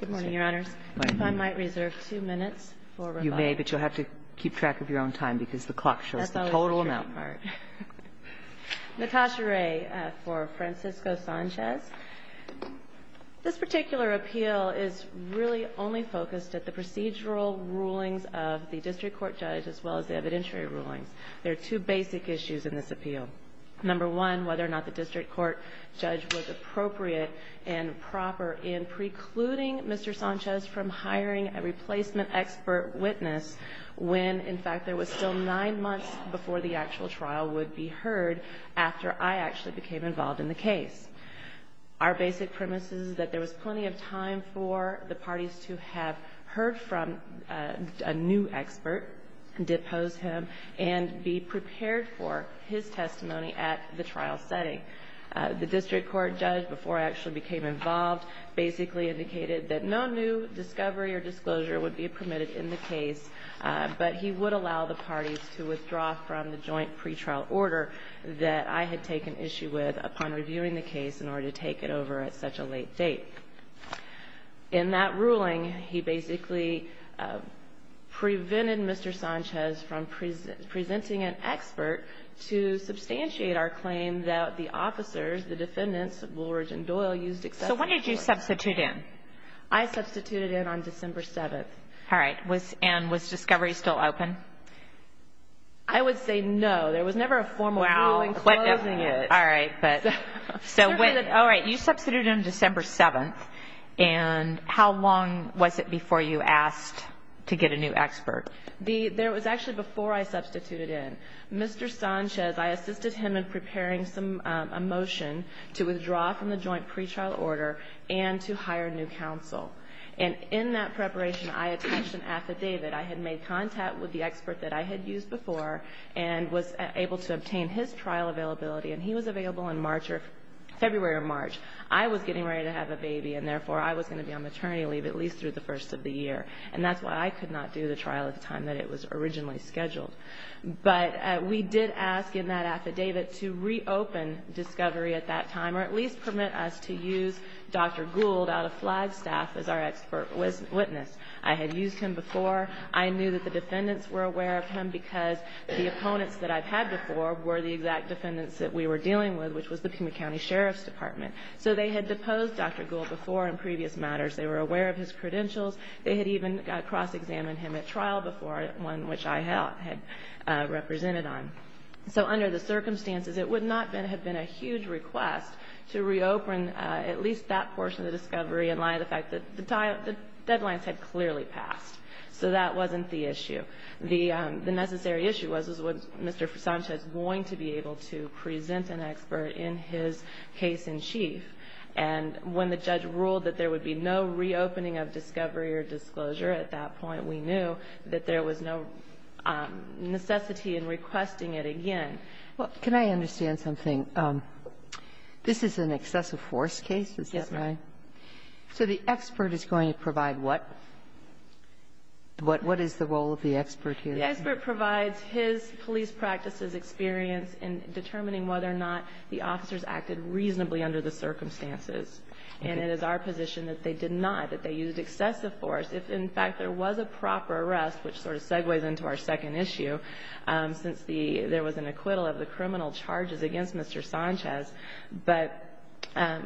Good morning, Your Honors. If I might reserve two minutes for rebuttal. You may, but you'll have to keep track of your own time because the clock shows the total amount. Natasha Ray for Francisco Sanchez. This particular appeal is really only focused at the procedural rulings of the district court judge as well as the evidentiary rulings. There are two basic issues in this appeal. Number one, whether or not the district court judge was appropriate and proper in precluding Mr. Sanchez from hiring a replacement expert witness when, in fact, there was still nine months before the actual trial would be heard after I actually became involved in the case. Our basic premise is that there was plenty of time for the parties to have heard from a new expert, depose him, and be prepared for his testimony at the trial setting. The district court judge, before I actually became involved, basically indicated that no new discovery or disclosure would be permitted in the case, but he would allow the parties to withdraw from the joint pretrial order that I had taken issue with upon reviewing the case in order to take it over at such a late date. In that ruling, he basically prevented Mr. Sanchez from presenting an expert to officers. The defendants, Woolridge and Doyle, used excessive force. I substituted in on December 7th. And was discovery still open? I would say no. There was never a formal ruling closing it. You substituted in December 7th. How long was it before you asked to get a new expert? It was actually before I substituted in. Mr. Sanchez, I made a motion to withdraw from the joint pretrial order and to hire new counsel. And in that preparation, I attached an affidavit. I had made contact with the expert that I had used before and was able to obtain his trial availability. And he was available in February or March. I was getting ready to have a baby, and therefore I was going to be on maternity leave at least through the first of the year. And that's why I could not do the trial at the time that it was originally scheduled. But we did ask in that affidavit to reopen discovery at that time or at least permit us to use Dr. Gould out of Flagstaff as our expert witness. I had used him before. I knew that the defendants were aware of him because the opponents that I've had before were the exact defendants that we were dealing with, which was the Pima County Sheriff's Department. So they had deposed Dr. Gould before in previous matters. They were aware of his credentials. They had even cross-examined him at trial before, one which I had represented on. So under the circumstances, it would not have been a huge request to reopen at least that portion of the discovery in light of the fact that the deadlines had clearly passed. So that wasn't the issue. The necessary issue was, was was Mr. Sanchez going to be able to present an expert in his case-in-chief? And when the judge ruled that there would be no reopening of discovery or disclosure at that point, we knew that there was no necessity in requesting it again. Well, can I understand something? This is an excessive force case, is that right? Yes, ma'am. So the expert is going to provide what? What is the role of the expert here? The expert provides his police practices experience in determining whether or not the officers acted reasonably under the circumstances. And it is our position that they did not, that they used excessive force. If, in fact, there was a proper arrest, which sort of segues into our second issue, since there was an acquittal of the criminal charges against Mr. Sanchez, but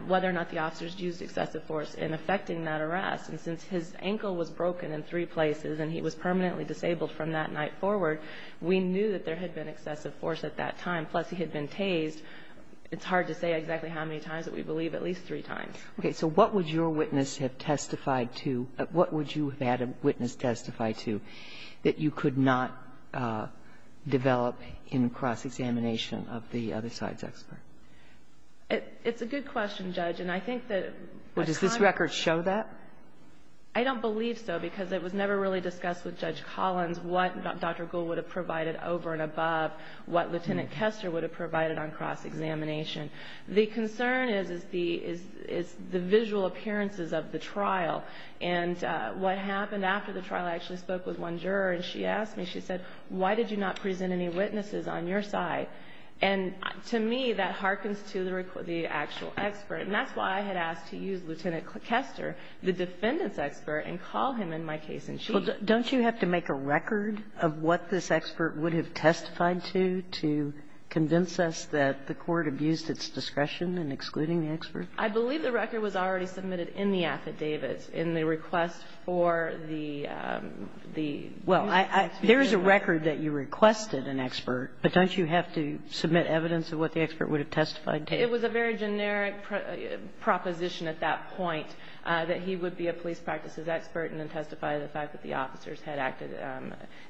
whether or not the officers used excessive force in effecting that arrest. And since his ankle was broken in three places and he was permanently disabled from that night forward, we knew that there had been excessive force at that time, plus he had been tased. It's hard to say exactly how many times, but we believe at least three times. Okay. So what would your witness have testified to or what would you have had a witness testify to that you could not develop in cross-examination of the other side's expert? It's a good question, Judge, and I think that at times we can't. Well, does this record show that? I don't believe so, because it was never really discussed with Judge Collins what Dr. Gould would have provided over and above, what Lieutenant Kester would have provided on cross-examination. The concern is the visual appearances of the trial. And what happened after the trial, I actually spoke with one juror, and she asked me, she said, why did you not present any witnesses on your side? And to me, that hearkens to the actual expert. And that's why I had asked to use Lieutenant Kester, the defendant's expert, and call him in my case-in-chief. Well, don't you have to make a record of what this expert would have testified to, to convince us that the Court abused its discretion in excluding the expert? I believe the record was already submitted in the affidavit in the request for the the expert. Well, there is a record that you requested an expert, but don't you have to submit evidence of what the expert would have testified to? It was a very generic proposition at that point, that he would be a police practices expert and then testify to the fact that the officers had acted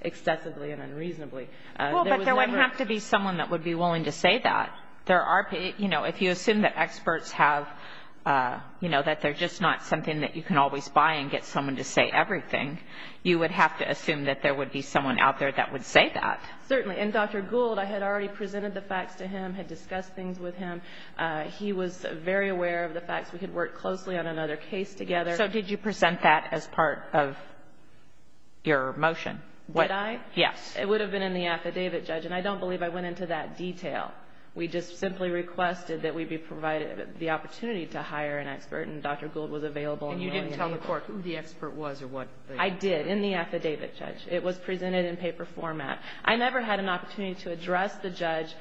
excessively and unreasonably. Well, but there would have to be someone that would be willing to say that. There are, you know, if you assume that experts have, you know, that they're just not something that you can always buy and get someone to say everything, you would have to assume that there would be someone out there that would say that. Certainly. And Dr. Gould, I had already presented the facts to him, had discussed things with him. He was very aware of the facts. We had worked closely on another case together. So did you present that as part of your motion? Did I? Yes. It would have been in the affidavit, Judge, and I don't believe I went into that detail. We just simply requested that we be provided the opportunity to hire an expert, and Dr. Gould was available. And you didn't tell the court who the expert was or what the – I did, in the affidavit, Judge. It was presented in paper format. I never had an opportunity to address the judge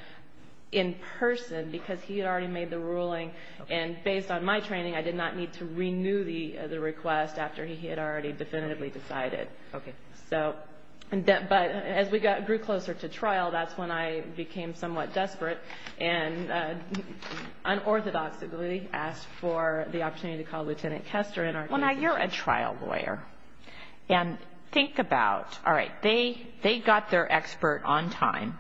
in person because he had already made the ruling, and based on my training, I did not need to renew the request after he had already definitively decided. Okay. But as we grew closer to trial, that's when I became somewhat desperate and unorthodoxly asked for the opportunity to call Lieutenant Kester in our case. Well, now, you're a trial lawyer. And think about, all right, they got their expert on time,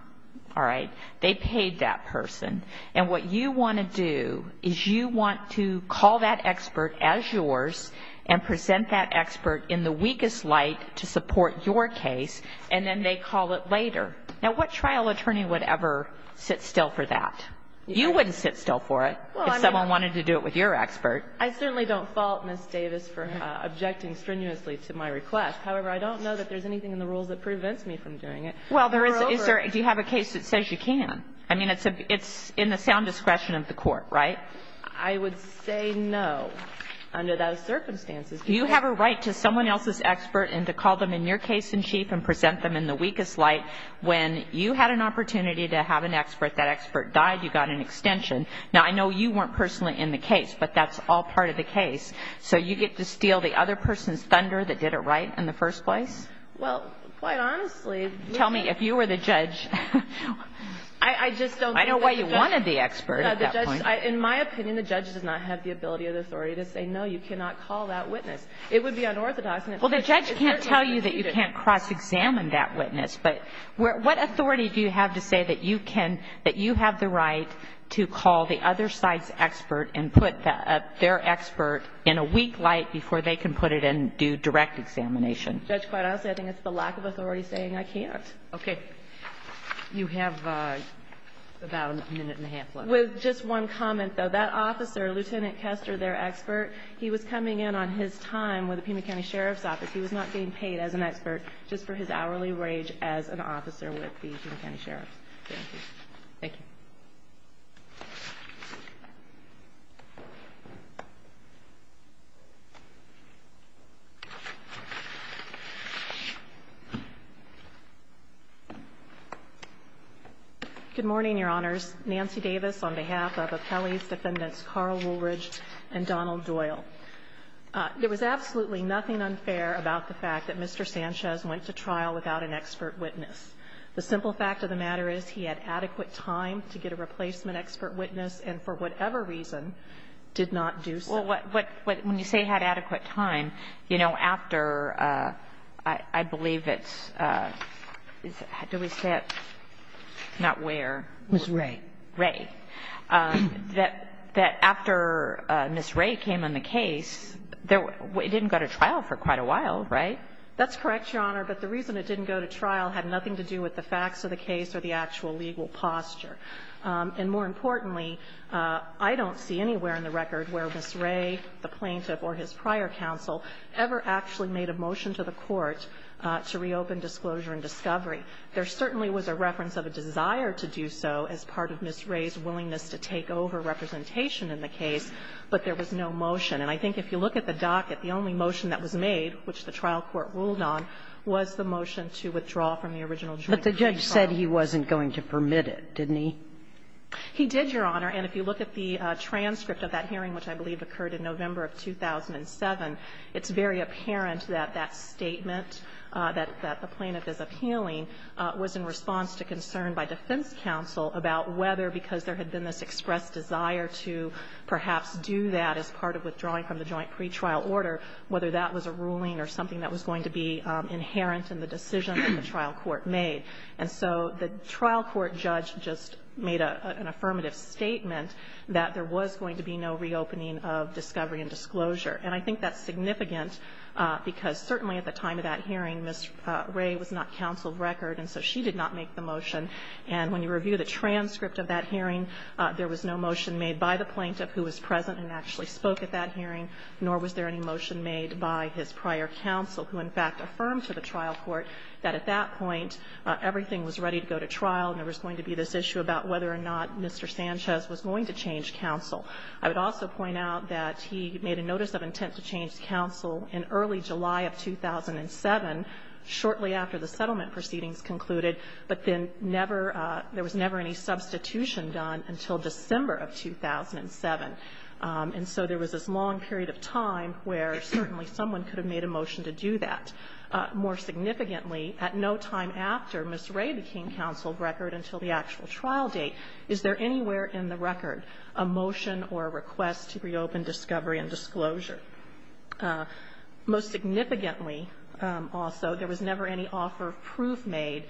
all right? They paid that person. And what you want to do is you want to call that expert as yours and present that And you have a right to support your case, and then they call it later. Now, what trial attorney would ever sit still for that? You wouldn't sit still for it if someone wanted to do it with your expert. I certainly don't fault Ms. Davis for objecting strenuously to my request. However, I don't know that there's anything in the rules that prevents me from doing it. Well, there is. Do you have a case that says you can? I mean, it's in the sound discretion of the court, right? I would say no under those circumstances. Do you have a right to someone else's expert and to call them in your case in chief and present them in the weakest light? When you had an opportunity to have an expert, that expert died, you got an extension. Now, I know you weren't personally in the case, but that's all part of the case. So you get to steal the other person's thunder that did it right in the first place? Well, quite honestly, Tell me, if you were the judge, I just don't think that the judge in my opinion, the judge does not have the ability or the authority to say, no, you cannot call that witness. It would be unorthodox. Well, the judge can't tell you that you can't cross-examine that witness. But what authority do you have to say that you can, that you have the right to call the other side's expert and put their expert in a weak light before they can put it in and do direct examination? Judge, quite honestly, I think it's the lack of authority saying I can't. Okay. You have about a minute and a half left. With just one comment, though, that officer, Lieutenant Kester, their expert, he was coming in on his time with the Pima County Sheriff's Office. He was not being paid as an expert just for his hourly wage as an officer with the Pima County Sheriff's. Thank you. Thank you. Good morning, Your Honors. Nancy Davis on behalf of Appellee's Defendants Carl Woolridge and Donald Doyle. There was absolutely nothing unfair about the fact that Mr. Sanchez went to trial without an expert witness. The simple fact of the matter is he had adequate time to get a replacement expert witness and for whatever reason did not do so. Well, when you say had adequate time, you know, after, I believe it's – do we say it? Not where. Ms. Ray. Ray. That after Ms. Ray came on the case, it didn't go to trial for quite a while, right? That's correct, Your Honor. But the reason it didn't go to trial had nothing to do with the facts of the case or the actual legal posture. And more importantly, I don't see anywhere in the record where Ms. Ray, the plaintiff or his prior counsel ever actually made a motion to the Court to reopen disclosure and discovery. There certainly was a reference of a desire to do so as part of Ms. Ray's willingness to take over representation in the case, but there was no motion. And I think if you look at the docket, the only motion that was made, which the trial court ruled on, was the motion to withdraw from the original jury trial. But the judge said he wasn't going to permit it, didn't he? He did, Your Honor. And if you look at the transcript of that hearing, which I believe occurred in November of 2007, it's very apparent that that statement that the plaintiff is appealing was in response to concern by defense counsel about whether, because there had been this expressed desire to perhaps do that as part of withdrawing from the joint pretrial order, whether that was a ruling or something that was going to be inherent in the decision that the trial court made. And so the trial court judge just made an affirmative statement that there was going to be no reopening of discovery and disclosure. And I think that's significant, because certainly at the time of that hearing, Ms. Ray was not counsel of record, and so she did not make the motion. And when you review the transcript of that hearing, there was no motion made by the plaintiff who was present and actually spoke at that hearing, nor was there any motion made by his prior counsel, who in fact affirmed to the trial court that at that point everything was ready to go to trial and there was going to be this issue about whether or not Mr. Sanchez was going to change counsel. I would also point out that he made a notice of intent to change counsel in early July of 2007, shortly after the settlement proceedings concluded, but then never – there was never any substitution done until December of 2007. And so there was this long period of time where certainly someone could have made a motion to do that. More significantly, at no time after Ms. Ray became counsel of record until the actual trial date is there anywhere in the record a motion or a request to reopen discovery and disclosure. Most significantly, also, there was never any offer of proof made.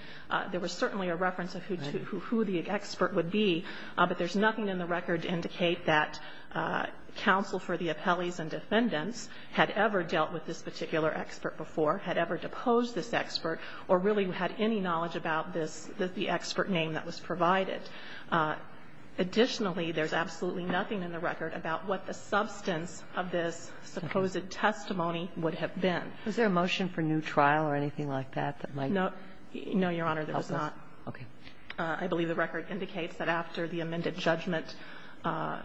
There was certainly a reference of who the expert would be, but there's nothing in the record to indicate that counsel for the appellees and defendants had ever dealt with this particular expert before, had ever deposed this expert, or really had any knowledge about this, the expert name that was provided. Additionally, there's absolutely nothing in the record about what the substance of this supposed testimony would have been. Was there a motion for new trial or anything like that, that might? No. No, Your Honor, there was not. Okay. I believe the record indicates that after the amended judgment. Now,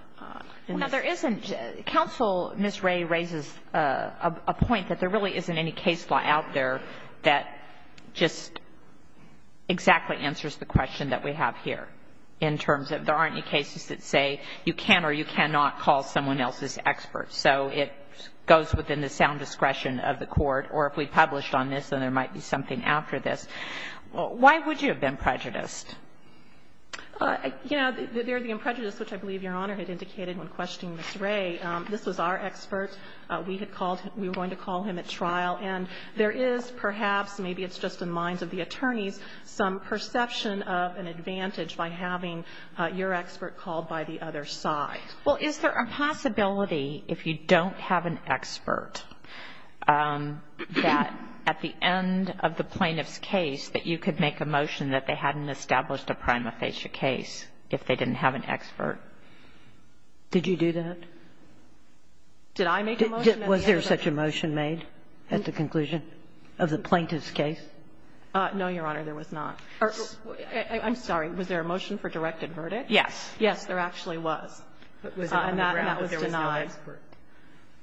there isn't – counsel, Ms. Ray raises a point that there really isn't any case law out there that just exactly answers the question that we have here in terms of there aren't any cases that say you can or you cannot call someone else's expert. So it goes within the sound discretion of the Court, or if we published on this, then there might be something after this. Why would you have been prejudiced? You know, the imprejudice, which I believe Your Honor had indicated when questioning Ms. Ray, this was our expert. We had called – we were going to call him at trial, and there is perhaps, maybe it's just in the minds of the attorneys, some perception of an advantage by having your expert called by the other side. Well, is there a possibility, if you don't have an expert, that at the end of the plaintiff's case that you could make a motion that they hadn't established a prima facie case if they didn't have an expert? Did you do that? Did I make the motion? Was there such a motion made at the conclusion of the plaintiff's case? No, Your Honor, there was not. I'm sorry. Was there a motion for directed verdict? Yes. Yes, there actually was. And that was denied.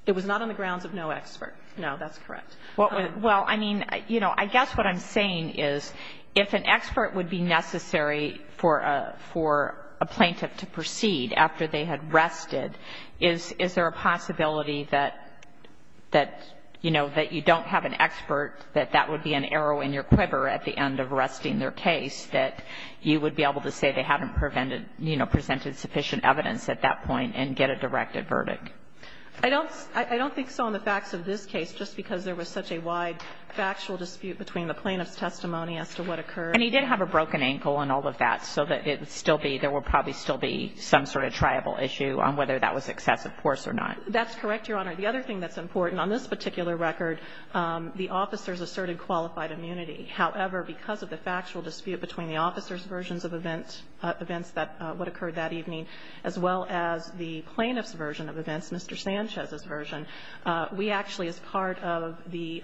It was not on the grounds of no expert. No, that's correct. Well, I mean, you know, I guess what I'm saying is if an expert would be necessary for a plaintiff to proceed after they had rested, is there a possibility that, you know, that you don't have an expert, that that would be an arrow in your quiver at the end of arresting their case, that you would be able to say they haven't presented sufficient evidence at that point and get a directed verdict? I don't think so on the facts of this case, just because there was such a wide factual dispute between the plaintiff's testimony as to what occurred. And he did have a broken ankle and all of that, so that it would still be – there would probably still be some sort of triable issue on whether that was excessive force or not. That's correct, Your Honor. The other thing that's important, on this particular record, the officers asserted qualified immunity. However, because of the factual dispute between the officers' versions of events that – what occurred that evening, as well as the plaintiff's version of events, Mr. Sanchez's version, we actually, as part of the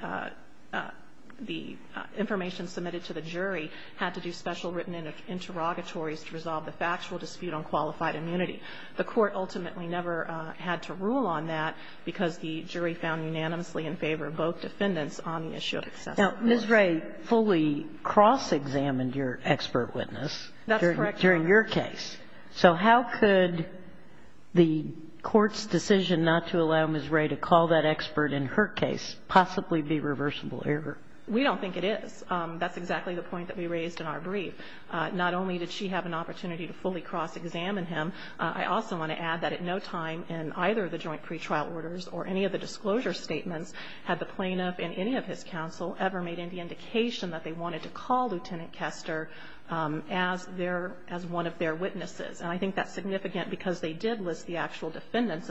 information submitted to the jury, had to do special written interrogatories to resolve the factual dispute on qualified immunity. The Court ultimately never had to rule on that because the jury found unanimously in favor of both defendants on the issue of excessive force. Now, Ms. Wray fully cross-examined your expert witness. That's correct, Your Honor. So how could the Court's decision not to allow Ms. Wray to call that expert in her case possibly be reversible error? We don't think it is. That's exactly the point that we raised in our brief. Not only did she have an opportunity to fully cross-examine him, I also want to add that at no time in either of the joint pretrial orders or any of the disclosure statements had the plaintiff in any of his counsel ever made any indication that they wanted to call Lieutenant Kester as one of their witnesses. And I think that's significant because they did list the actual defendants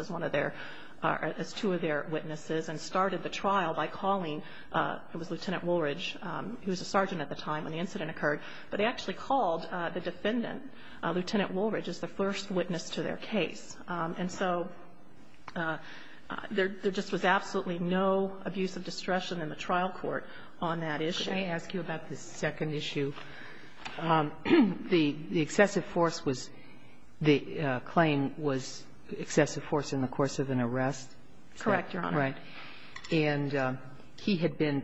as two of their witnesses and started the trial by calling Lieutenant Woolridge, who was a sergeant at the time when the incident occurred, but they actually called the defendant, Lieutenant Woolridge, as the first witness to their case. And so there just was absolutely no abuse of discretion in the trial court on that I just want to ask you about the second issue. The excessive force was the claim was excessive force in the course of an arrest? Correct, Your Honor. Right. And he had been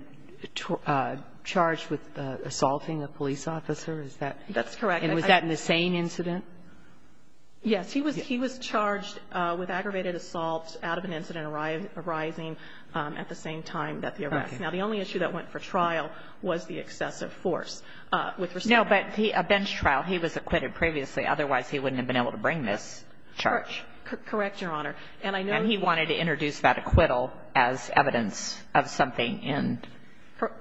charged with assaulting a police officer. Is that? That's correct. And was that in the same incident? Yes. He was charged with aggravated assault out of an incident arising at the same time that the arrest. Okay. Now, the only issue that went for trial was the excessive force. No, but a bench trial, he was acquitted previously. Otherwise, he wouldn't have been able to bring this charge. Correct, Your Honor. And he wanted to introduce that acquittal as evidence of something in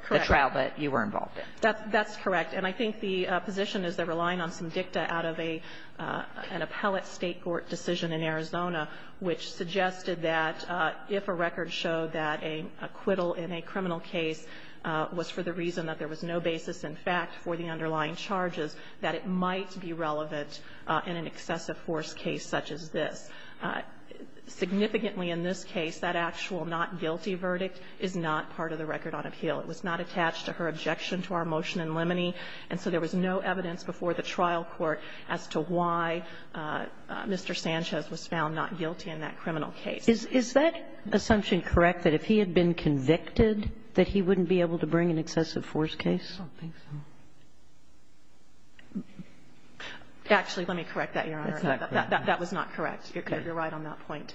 the trial that you were involved in. That's correct. And I think the position is they're relying on some dicta out of an appellate state court decision in Arizona, which suggested that if a record showed that an acquittal in a criminal case was for the reason that there was no basis in fact for the underlying charges, that it might be relevant in an excessive force case such as this. Significantly, in this case, that actual not guilty verdict is not part of the record on appeal. It was not attached to her objection to our motion in Limoney, and so there was no evidence before the trial court as to why Mr. Sanchez was found not guilty in that criminal case. Is that assumption correct, that if he had been convicted that he wouldn't be able to bring an excessive force case? I don't think so. Actually, let me correct that, Your Honor. That was not correct. You're right on that point.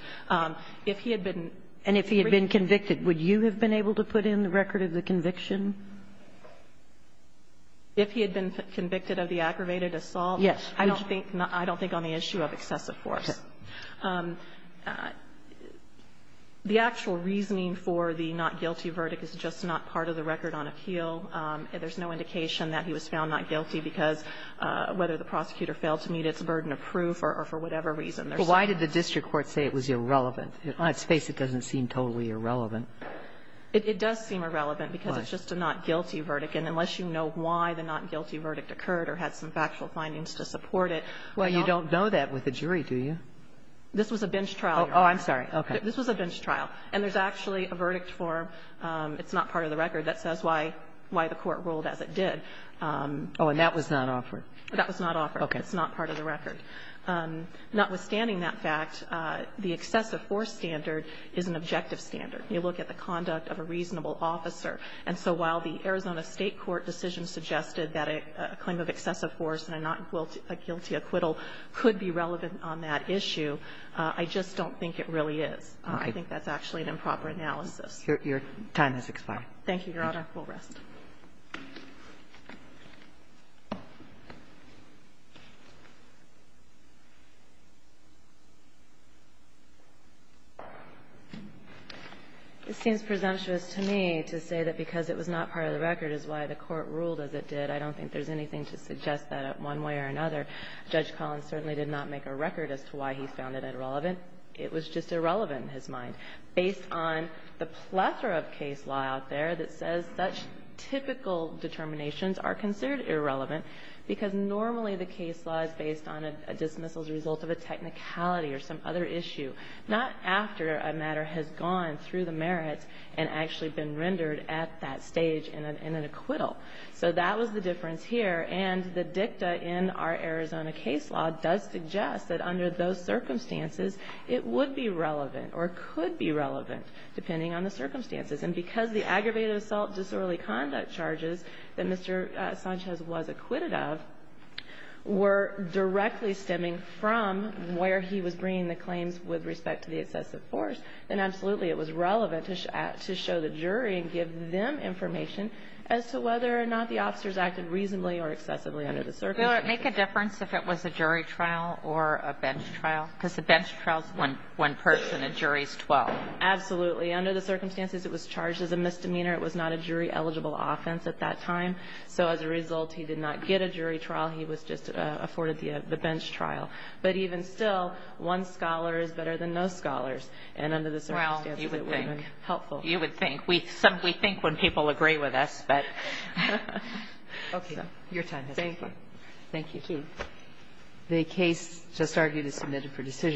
If he had been. And if he had been convicted, would you have been able to put in the record of the conviction? If he had been convicted of the aggravated assault? I don't think on the issue of excessive force. The actual reasoning for the not guilty verdict is just not part of the record on appeal. There's no indication that he was found not guilty because whether the prosecutor failed to meet its burden of proof or for whatever reason. But why did the district court say it was irrelevant? On its face, it doesn't seem totally irrelevant. It does seem irrelevant because it's just a not guilty verdict. And unless you know why the not guilty verdict occurred or had some factual findings to support it. Well, you don't know that with a jury, do you? This was a bench trial, Your Honor. Oh, I'm sorry. Okay. This was a bench trial. And there's actually a verdict for it's not part of the record that says why the court ruled as it did. Oh, and that was not offered. That was not offered. Okay. It's not part of the record. Notwithstanding that fact, the excessive force standard is an objective standard. You look at the conduct of a reasonable officer. And so while the Arizona State court decision suggested that a claim of excessive force and a not guilty acquittal could be relevant on that issue, I just don't think it really is. I think that's actually an improper analysis. Your time has expired. Thank you, Your Honor. We'll rest. It seems presumptuous to me to say that because it was not part of the record is why the court ruled as it did. I don't think there's anything to suggest that one way or another. Judge Collins certainly did not make a record as to why he found it irrelevant. It was just irrelevant in his mind. Based on the plethora of case law out there that says such typical determinations are considered irrelevant because normally the case law is based on a dismissal as a result of a technicality or some other issue, not after a matter has gone through the merits and actually been rendered at that stage in an acquittal. So that was the difference here. And the dicta in our Arizona case law does suggest that under those circumstances it would be relevant or could be relevant, depending on the circumstances. And because the aggravated assault disorderly conduct charges that Mr. Sanchez was acquitted of were directly stemming from where he was bringing the claims with respect to the excessive force, then absolutely it was relevant to show the jury and give them information as to whether or not the officers acted reasonably or excessively under the circumstances. Ms. Miller, make a difference if it was a jury trial or a bench trial? Because the bench trial is one person. A jury is 12. Absolutely. Under the circumstances it was charged as a misdemeanor. It was not a jury-eligible offense at that time. So as a result he did not get a jury trial. He was just afforded the bench trial. But even still, one scholar is better than no scholars. And under the circumstances it would have been helpful. Well, you would think. You would think. We think when people agree with us, but... Okay. Your time has expired. Thank you. The case just argued is submitted for decision.